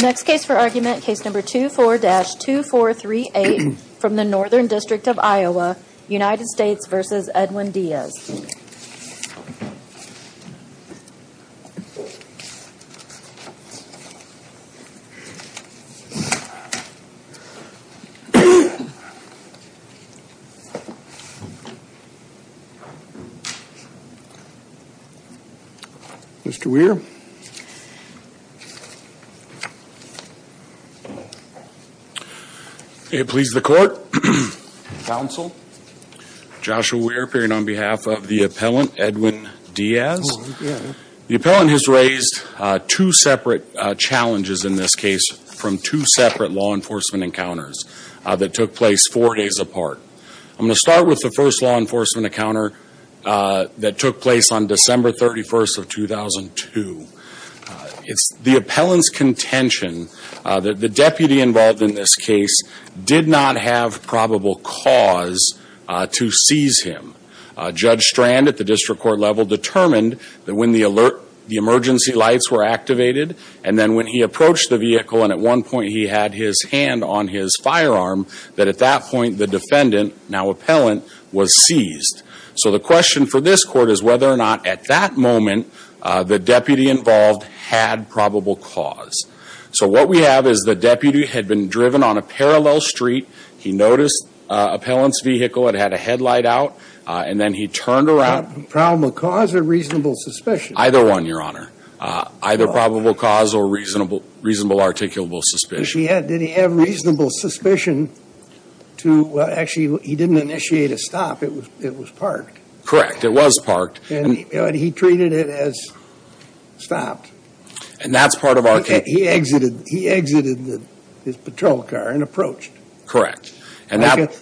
Next case for argument, case number 24-2438 from the Northern District of Iowa, United States v. Edwin Diaz. Mr. Weir. It pleases the court. Counsel. Joshua Weir appearing on behalf of the appellant, Edwin Diaz. The appellant has raised two separate challenges in this case from two separate law enforcement encounters that took place four days apart. I'm going to start with the first law enforcement encounter that took place on December 31st of 2002. It's the appellant's contention that the deputy involved in this case did not have probable cause to seize him. Judge Strand at the district court level determined that when the alert, the emergency lights were activated, and then when he approached the vehicle and at one point he had his hand on his firearm, that at that point the defendant, now appellant, was seized. So the question for this court is whether or not at that moment the deputy involved had probable cause. So what we have is the deputy had been driven on a parallel street. He noticed appellant's vehicle. It had a headlight out. And then he turned around. Problem of cause or reasonable suspicion? Either one, Your Honor. Either probable cause or reasonable articulable suspicion. Did he have reasonable suspicion to, well, actually he didn't initiate a stop. It was parked. It was parked. And he treated it as stopped. And that's part of our case. He exited his patrol car and approached. Correct.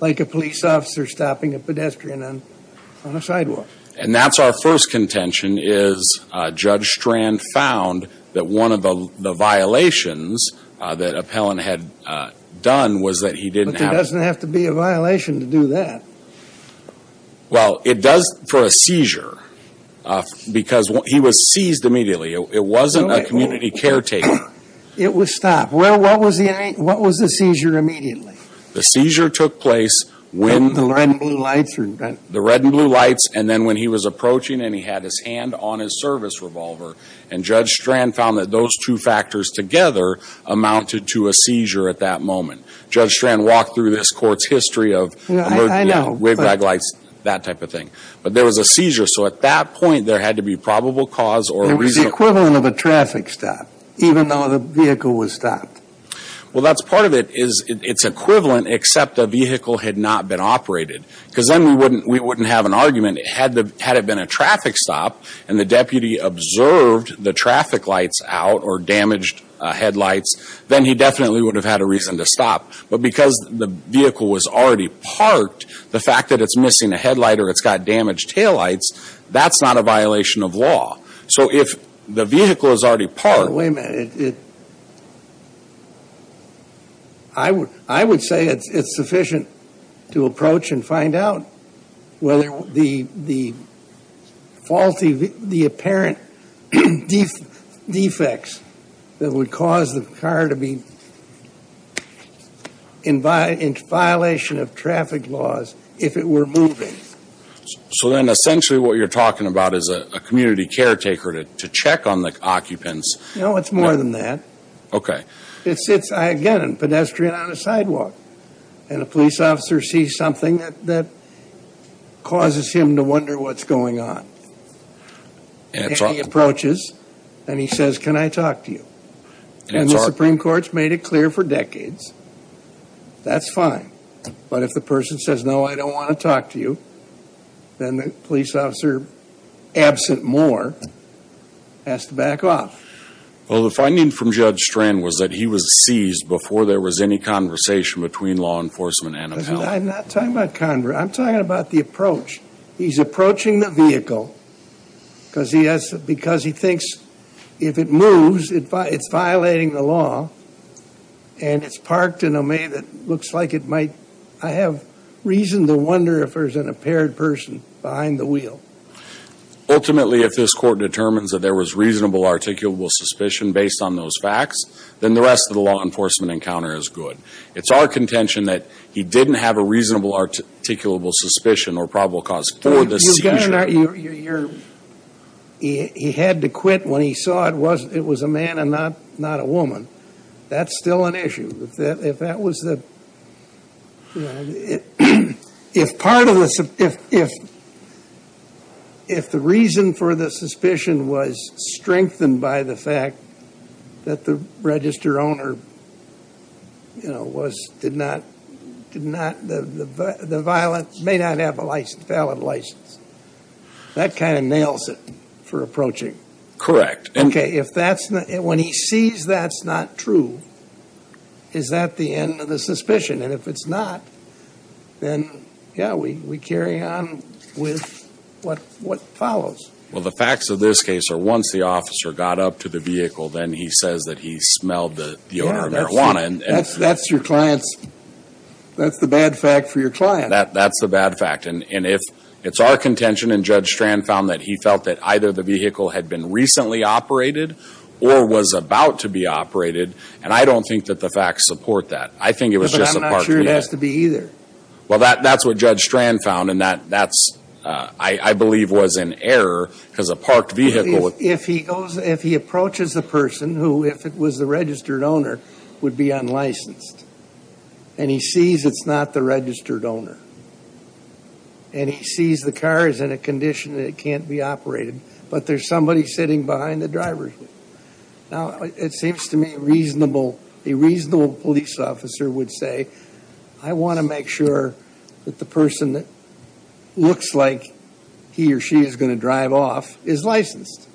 Like a police officer stopping a pedestrian on a sidewalk. And that's our first contention is Judge Strand found that one of the violations that appellant had done was that he didn't have. It doesn't have to be a violation to do that. Well, it does for a seizure. Because he was seized immediately. It wasn't a community caretaker. It was stopped. Well, what was the seizure immediately? The seizure took place when... The red and blue lights. The red and blue lights. And then when he was approaching and he had his hand on his service revolver. And Judge Strand found that those two factors together amounted to a seizure at that moment. Judge Strand walked through this court's history of... Yeah, I know.... waved back lights, that type of thing. But there was a seizure. So at that point there had to be probable cause or a reason... There was the equivalent of a traffic stop. Even though the vehicle was stopped. Well, that's part of it is it's equivalent except the vehicle had not been operated. Because then we wouldn't have an argument. Had it been a traffic stop and the deputy observed the traffic lights out or damaged headlights... Then he definitely would have had a reason to stop. But because the vehicle was already parked... The fact that it's missing a headlight or it's got damaged taillights... That's not a violation of law. So if the vehicle is already parked... Wait a minute. I would say it's sufficient to approach and find out... Whether the apparent defects that would cause the car to be in violation of traffic laws... If it were moving. So then essentially what you're talking about is a community caretaker to check on the occupants. No, it's more than that. Okay. It's again a pedestrian on a sidewalk. And a police officer sees something that causes him to wonder what's going on. And he approaches and he says, can I talk to you? And the Supreme Court's made it clear for decades. That's fine. But if the person says, no, I don't want to talk to you... Absent more... Has to back off. Well, the finding from Judge Strand was that he was seized... Before there was any conversation between law enforcement and the police. I'm not talking about conversation. I'm talking about the approach. He's approaching the vehicle. Because he thinks if it moves, it's violating the law. And it's parked in a way that looks like it might... I have reason to wonder if there's an impaired person behind the wheel. Ultimately, if this Court determines that there was reasonable articulable suspicion based on those facts, then the rest of the law enforcement encounter is good. It's our contention that he didn't have a reasonable articulable suspicion or probable cause for this seizure. He had to quit when he saw it was a man and not a woman. That's still an issue. If that was the... If part of the... If the reason for the suspicion was strengthened by the fact that the register owner did not... The violent may not have a valid license. That kind of nails it for approaching. Correct. Okay. If that's... When he sees that's not true, is that the end of the suspicion? And if it's not, then, yeah, we carry on with what follows. Well, the facts of this case are once the officer got up to the vehicle, then he says that he smelled the odor of marijuana. That's your client's... That's the bad fact for your client. That's the bad fact. And if it's our contention and Judge Strand found that he felt that either the vehicle had been recently operated or was about to be operated, and I don't think that the facts support that, I think it was just a parked vehicle. But I'm not sure it has to be either. Well, that's what Judge Strand found, and that, I believe, was an error because a parked vehicle... If he approaches the person who, if it was the registered owner, would be unlicensed, and he sees it's not the registered owner, and he sees the car is in a condition that it can't be operated, but there's somebody sitting behind the driver. Now, it seems to me reasonable, a reasonable police officer would say, I want to make sure that the person that looks like he or she is going to drive off is licensed.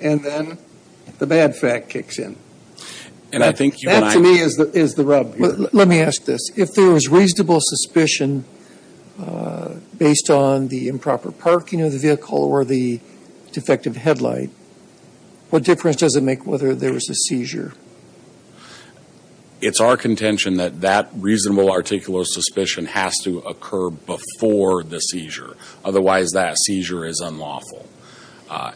And then the bad fact kicks in. And I think you and I... That, to me, is the rub here. Let me ask this. If there was reasonable suspicion based on the improper parking of the vehicle or the defective headlight, what difference does it make whether there was a seizure? It's our contention that that reasonable articular suspicion has to occur before the seizure. Otherwise, that seizure is unlawful.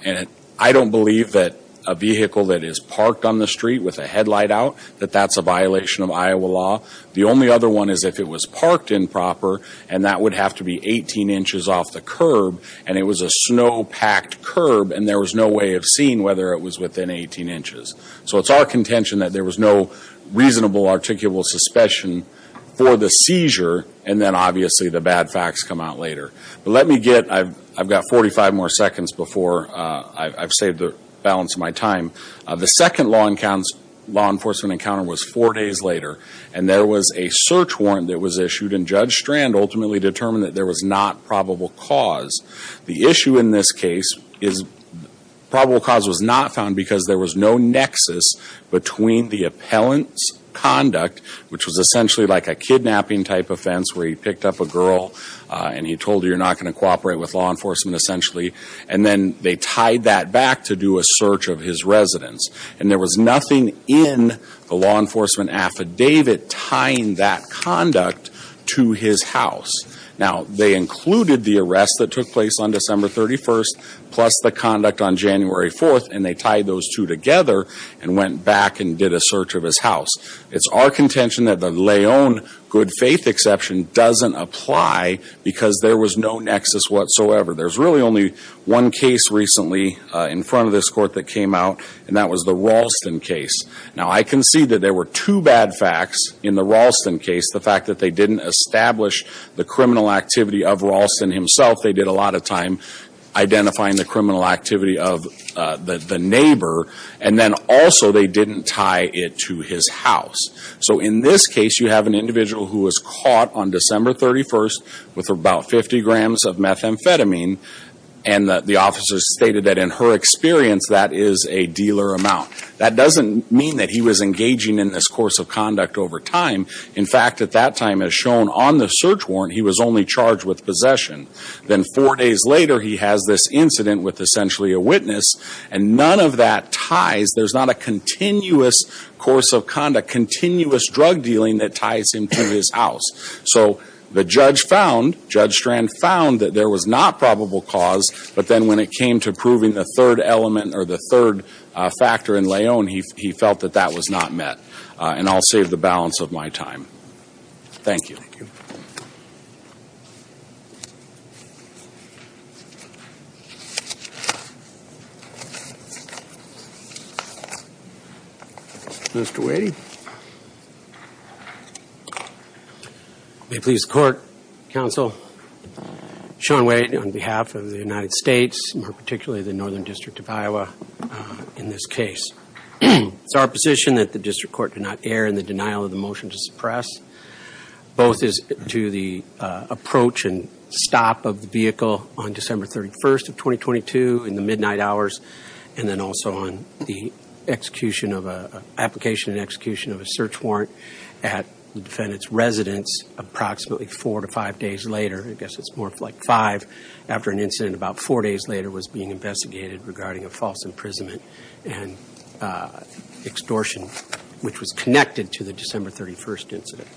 And I don't believe that a vehicle that is parked on the street with a headlight out, that that's a violation of Iowa law. The only other one is if it was parked improper, and that would have to be 18 inches off the curb, and it was a snow-packed curb, and there was no way of seeing whether it was within 18 inches. So, it's our contention that there was no reasonable articular suspicion for the seizure, and then, obviously, the bad facts come out later. But let me get... I've got 45 more seconds before I've saved the balance of my time. The second law enforcement encounter was four days later, and there was a search warrant that was issued, and Judge Strand ultimately determined that there was not probable cause. The issue in this case is probable cause was not found because there was no nexus between the appellant's conduct, which was essentially like a kidnapping-type offense where he picked up a girl, and he told her, you're not going to cooperate with law enforcement, essentially, and then they tied that back to do a search of his residence. And there was nothing in the law enforcement affidavit tying that conduct to his house. Now, they included the arrest that took place on December 31st, plus the conduct on January 4th, and they tied those two together and went back and did a search of his house. It's our contention that the Leon good faith exception doesn't apply because there was no nexus whatsoever. There's really only one case recently in front of this Court that came out, and that was the Ralston case. Now, I concede that there were two bad facts in the Ralston case, the fact that they didn't establish the criminal activity of Ralston himself. They did a lot of time identifying the criminal activity of the neighbor, and then also they didn't tie it to his house. So in this case, you have an individual who was caught on December 31st with about 50 grams of methamphetamine, and the officer stated that in her experience, that is a dealer amount. That doesn't mean that he was engaging in this course of conduct over time. In fact, at that time, as shown on the search warrant, he was only charged with possession. Then four days later, he has this incident with essentially a witness, and none of that ties, there's not a continuous course of conduct, continuous drug dealing that ties him to his house. So the judge found, Judge Strand found that there was not probable cause, but then when it came to proving the third element or the third factor in Leon, he felt that that was not met. And I'll save the balance of my time. Thank you. Thank you. Mr. Whady. May it please the Court, Counsel, Sean Whady on behalf of the United States, more particularly the Northern District of Iowa, in this case. It's our position that the District Court do not err in the denial of the motion to suppress, both as to the approach and stop of the vehicle on December 31st of 2022 in the midnight hours, and then also on the application and execution of a search warrant at the defendant's residence approximately four to five days later. I guess it's more like five after an incident about four days later was being investigated regarding a false imprisonment. And extortion, which was connected to the December 31st incident.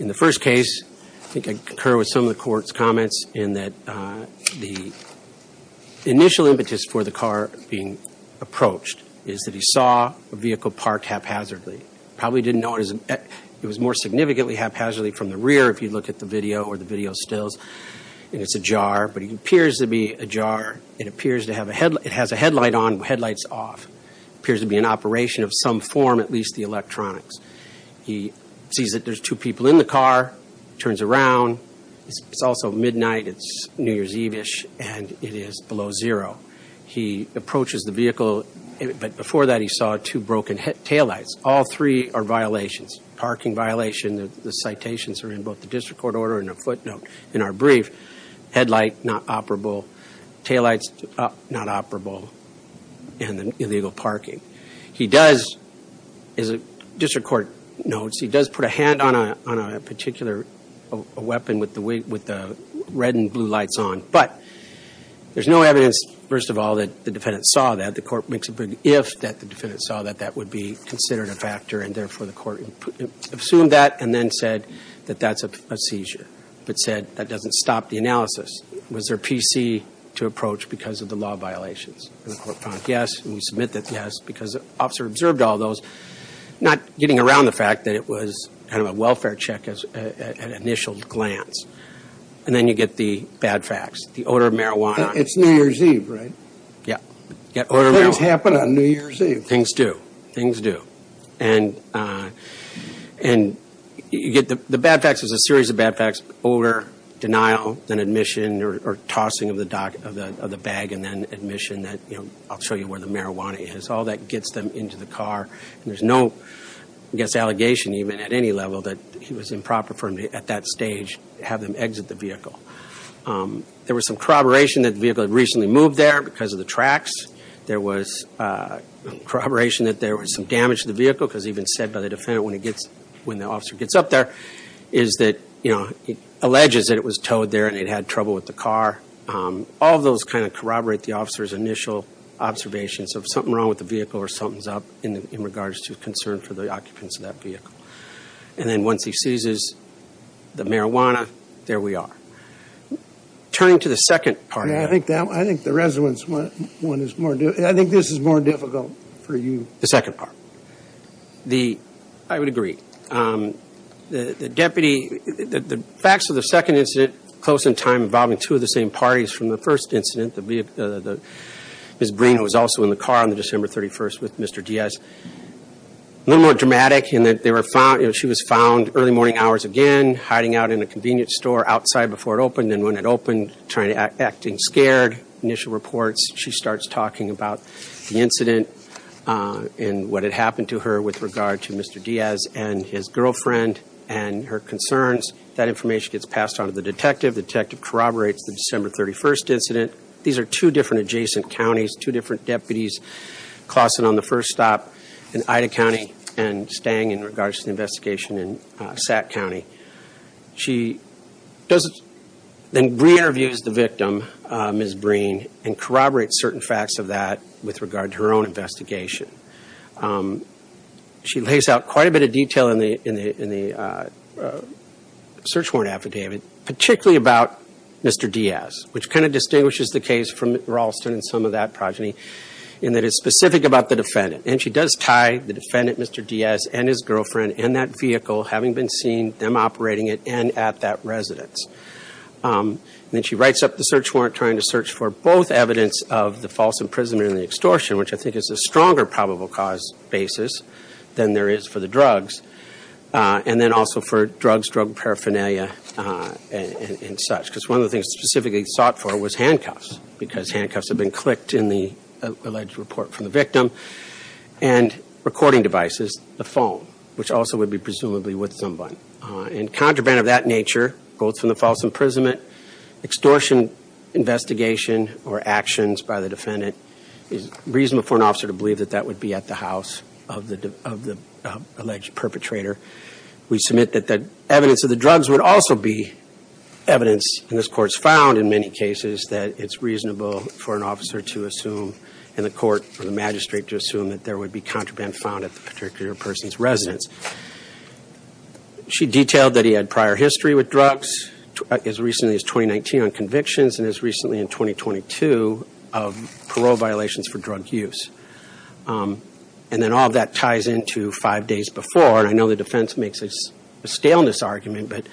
In the first case, I think I concur with some of the Court's comments in that the initial impetus for the car being approached is that he saw a vehicle parked haphazardly. Probably didn't know it was more significantly haphazardly from the rear if you look at the video or the video stills. And it's ajar, but it appears to be ajar. It appears to have a headlight. It has a headlight on, headlight's off. Appears to be in operation of some form, at least the electronics. He sees that there's two people in the car, turns around. It's also midnight, it's New Year's Eve-ish, and it is below zero. He approaches the vehicle, but before that he saw two broken taillights. All three are violations. Parking violation, the citations are in both the District Court order and a footnote in our brief. Headlight, not operable. Taillights, not operable. And illegal parking. He does, as the District Court notes, he does put a hand on a particular weapon with the red and blue lights on. But there's no evidence, first of all, that the defendant saw that. The Court makes a big if that the defendant saw that that would be considered a factor, and therefore the Court assumed that and then said that that's a seizure. But said that doesn't stop the analysis. Was there PC to approach because of the law violations? And the Court found yes, and we submit that yes because the officer observed all those, not getting around the fact that it was kind of a welfare check at initial glance. And then you get the bad facts, the odor of marijuana. It's New Year's Eve, right? Yeah. Things happen on New Year's Eve. Things do. Things do. And you get the bad facts. There's a series of bad facts. Odor, denial, then admission or tossing of the bag and then admission that, you know, I'll show you where the marijuana is. All that gets them into the car, and there's no, I guess, allegation even at any level that it was improper for him at that stage to have them exit the vehicle. There was some corroboration that the vehicle had recently moved there because of the tracks. There was corroboration that there was some damage to the vehicle because even said by the defendant when the officer gets up there is that, you know, it alleges that it was towed there and it had trouble with the car. All those kind of corroborate the officer's initial observations of something wrong with the vehicle or something's up in regards to concern for the occupants of that vehicle. And then once he seizes the marijuana, there we are. Turning to the second part. I think the resonance one is more difficult. I think this is more difficult for you. The second part. I would agree. The deputy, the facts of the second incident close in time involving two of the same parties from the first incident, Ms. Breen, who was also in the car on December 31st with Mr. Diaz, a little more dramatic in that she was found early morning hours again, hiding out in a convenience store outside before it opened, and then when it opened, acting scared, initial reports. She starts talking about the incident and what had happened to her with regard to Mr. Diaz and his girlfriend and her concerns. That information gets passed on to the detective. The detective corroborates the December 31st incident. These are two different adjacent counties, two different deputies. Claussen on the first stop in Ida County and Stang in regards to the investigation in Sac County. She then re-interviews the victim, Ms. Breen, and corroborates certain facts of that with regard to her own investigation. She lays out quite a bit of detail in the search warrant affidavit, particularly about Mr. Diaz, which kind of distinguishes the case from Ralston and some of that progeny, in that it's specific about the defendant. And she does tie the defendant, Mr. Diaz, and his girlfriend, and that vehicle, having been seen, them operating it, and at that residence. Then she writes up the search warrant trying to search for both evidence of the false imprisonment and the extortion, which I think is a stronger probable cause basis than there is for the drugs, and then also for drugs, drug paraphernalia, and such, because one of the things specifically sought for was handcuffs because handcuffs have been clicked in the alleged report from the victim, and recording devices, the phone, which also would be presumably with someone. In contraband of that nature, both from the false imprisonment, extortion investigation or actions by the defendant, it is reasonable for an officer to believe that that would be at the house of the alleged perpetrator. We submit that the evidence of the drugs would also be evidence, and this court's found in many cases that it's reasonable for an officer to assume, and the court or the magistrate to assume, that there would be contraband found at the particular person's residence. She detailed that he had prior history with drugs as recently as 2019 on convictions and as recently in 2022 of parole violations for drug use. And then all of that ties into five days before, and I know the defense makes a staleness argument, but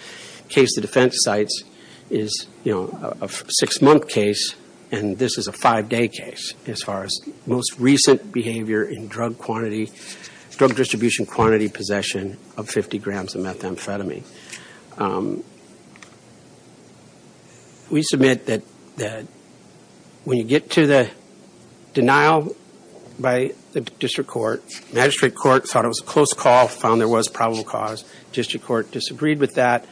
case the defense cites is, you know, a six-month case, and this is a five-day case as far as most recent behavior in drug quantity, drug distribution quantity possession of 50 grams of methamphetamine. We submit that when you get to the denial by the district court, magistrate court thought it was a close call, found there was probable cause, district court disagreed with that,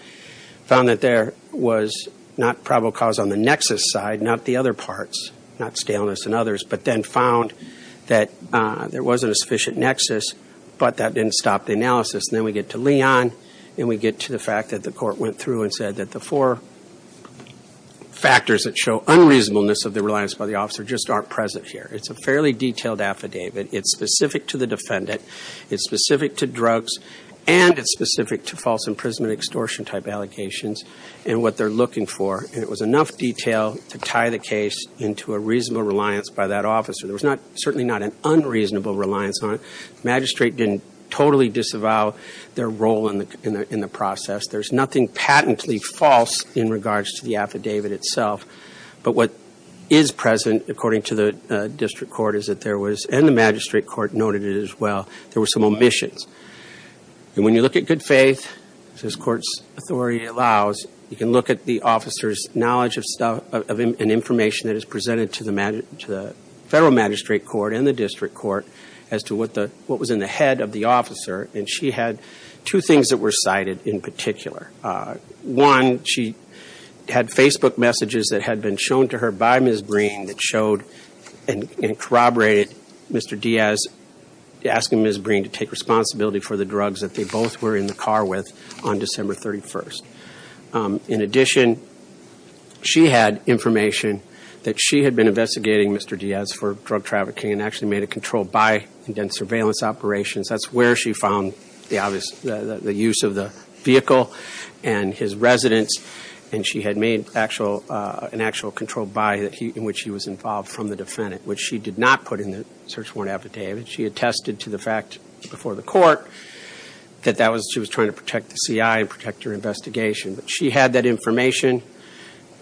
found that there was not probable cause on the nexus side, not the other parts, not staleness and others, but then found that there wasn't a sufficient nexus, but that didn't stop the analysis. And then we get to Leon, and we get to the fact that the court went through and said that the four factors that show unreasonableness of the reliance by the officer just aren't present here. It's a fairly detailed affidavit. It's specific to the defendant. It's specific to drugs, and it's specific to false imprisonment extortion type allegations and what they're looking for. And it was enough detail to tie the case into a reasonable reliance by that officer. There was certainly not an unreasonable reliance on it. The magistrate didn't totally disavow their role in the process. There's nothing patently false in regards to the affidavit itself. But what is present, according to the district court, is that there was, and the magistrate court noted it as well, there were some omissions. And when you look at good faith, as this court's authority allows, you can look at the officer's knowledge of an information that is presented to the federal magistrate court and the district court as to what was in the head of the officer. And she had two things that were cited in particular. One, she had Facebook messages that had been shown to her by Ms. Breen that showed and corroborated Mr. Diaz asking Ms. Breen to take responsibility for the drugs that they both were in the car with on December 31st. In addition, she had information that she had been investigating Mr. Diaz for drug trafficking and actually made a controlled buy and done surveillance operations. That's where she found the use of the vehicle and his residence, and she had made an actual controlled buy in which he was involved from the defendant, which she did not put in the search warrant affidavit. She attested to the fact before the court that she was trying to protect the CI and protect her investigation. But she had that information,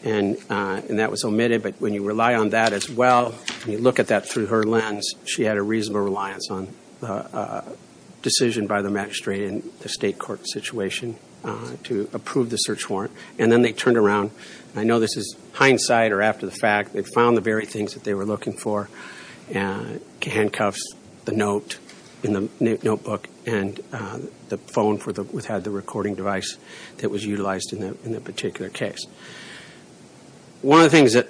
and that was omitted. But when you rely on that as well, when you look at that through her lens, she had a reasonable reliance on a decision by the magistrate and the state court situation to approve the search warrant, and then they turned around. I know this is hindsight or after the fact. They found the very things that they were looking for, handcuffs, the note in the notebook, and the phone that had the recording device that was utilized in that particular case. One of the things that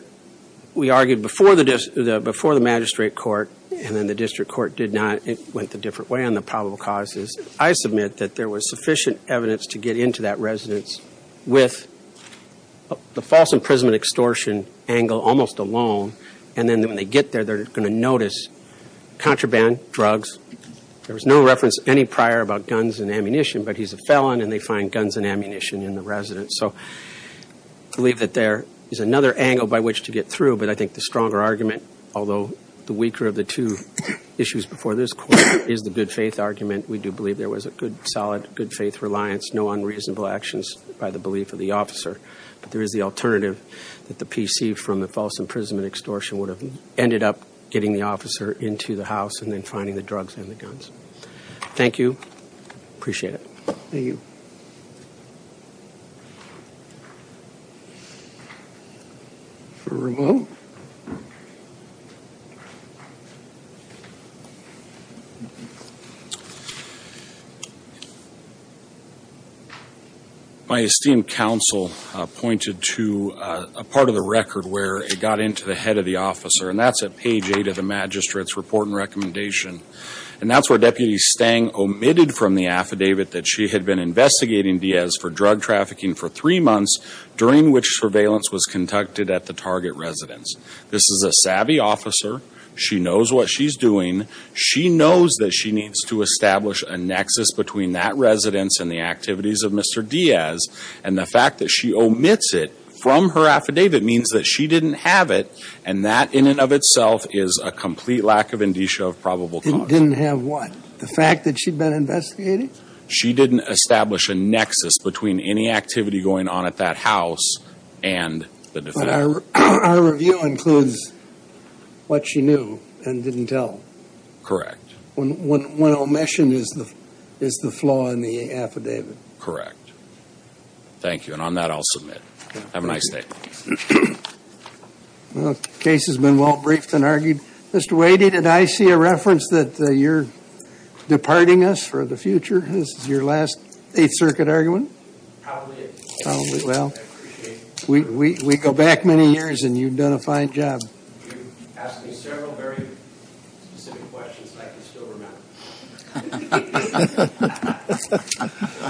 we argued before the magistrate court and then the district court did not, it went the different way on the probable causes. I submit that there was sufficient evidence to get into that residence with the false imprisonment extortion angle almost alone, and then when they get there they're going to notice contraband, drugs. There was no reference any prior about guns and ammunition, but he's a felon and they find guns and ammunition in the residence. So I believe that there is another angle by which to get through, but I think the stronger argument, although the weaker of the two issues before this court, is the good faith argument. We do believe there was a good, solid, good faith reliance, no unreasonable actions by the belief of the officer, but there is the alternative that the PC from the false imprisonment extortion would have ended up getting the officer into the house and then finding the drugs and the guns. Thank you. Appreciate it. Thank you. For Ramon? My esteemed counsel pointed to a part of the record where it got into the head of the officer, and that's at page 8 of the magistrate's report and recommendation, and that's where Deputy Stang omitted from the affidavit that she had been investigating Diaz for drug trafficking for three months, during which surveillance was conducted at the target residence. This is a savvy officer. She knows what she's doing. She knows that she needs to establish a nexus between that residence and the activities of Mr. Diaz, and the fact that she omits it from her affidavit means that she didn't have it, and that in and of itself is a complete lack of indicia of probable cause. Didn't have what? The fact that she'd been investigating? She didn't establish a nexus between any activity going on at that house and the defendant. But our review includes what she knew and didn't tell. Correct. One omission is the flaw in the affidavit. Correct. Thank you, and on that I'll submit. Have a nice day. Well, the case has been well briefed and argued. Mr. Wadey, did I see a reference that you're departing us for the future? This is your last Eighth Circuit argument? Probably is. Well, we go back many years, and you've done a fine job. You've asked me several very specific questions, and I can still remember. Thank you.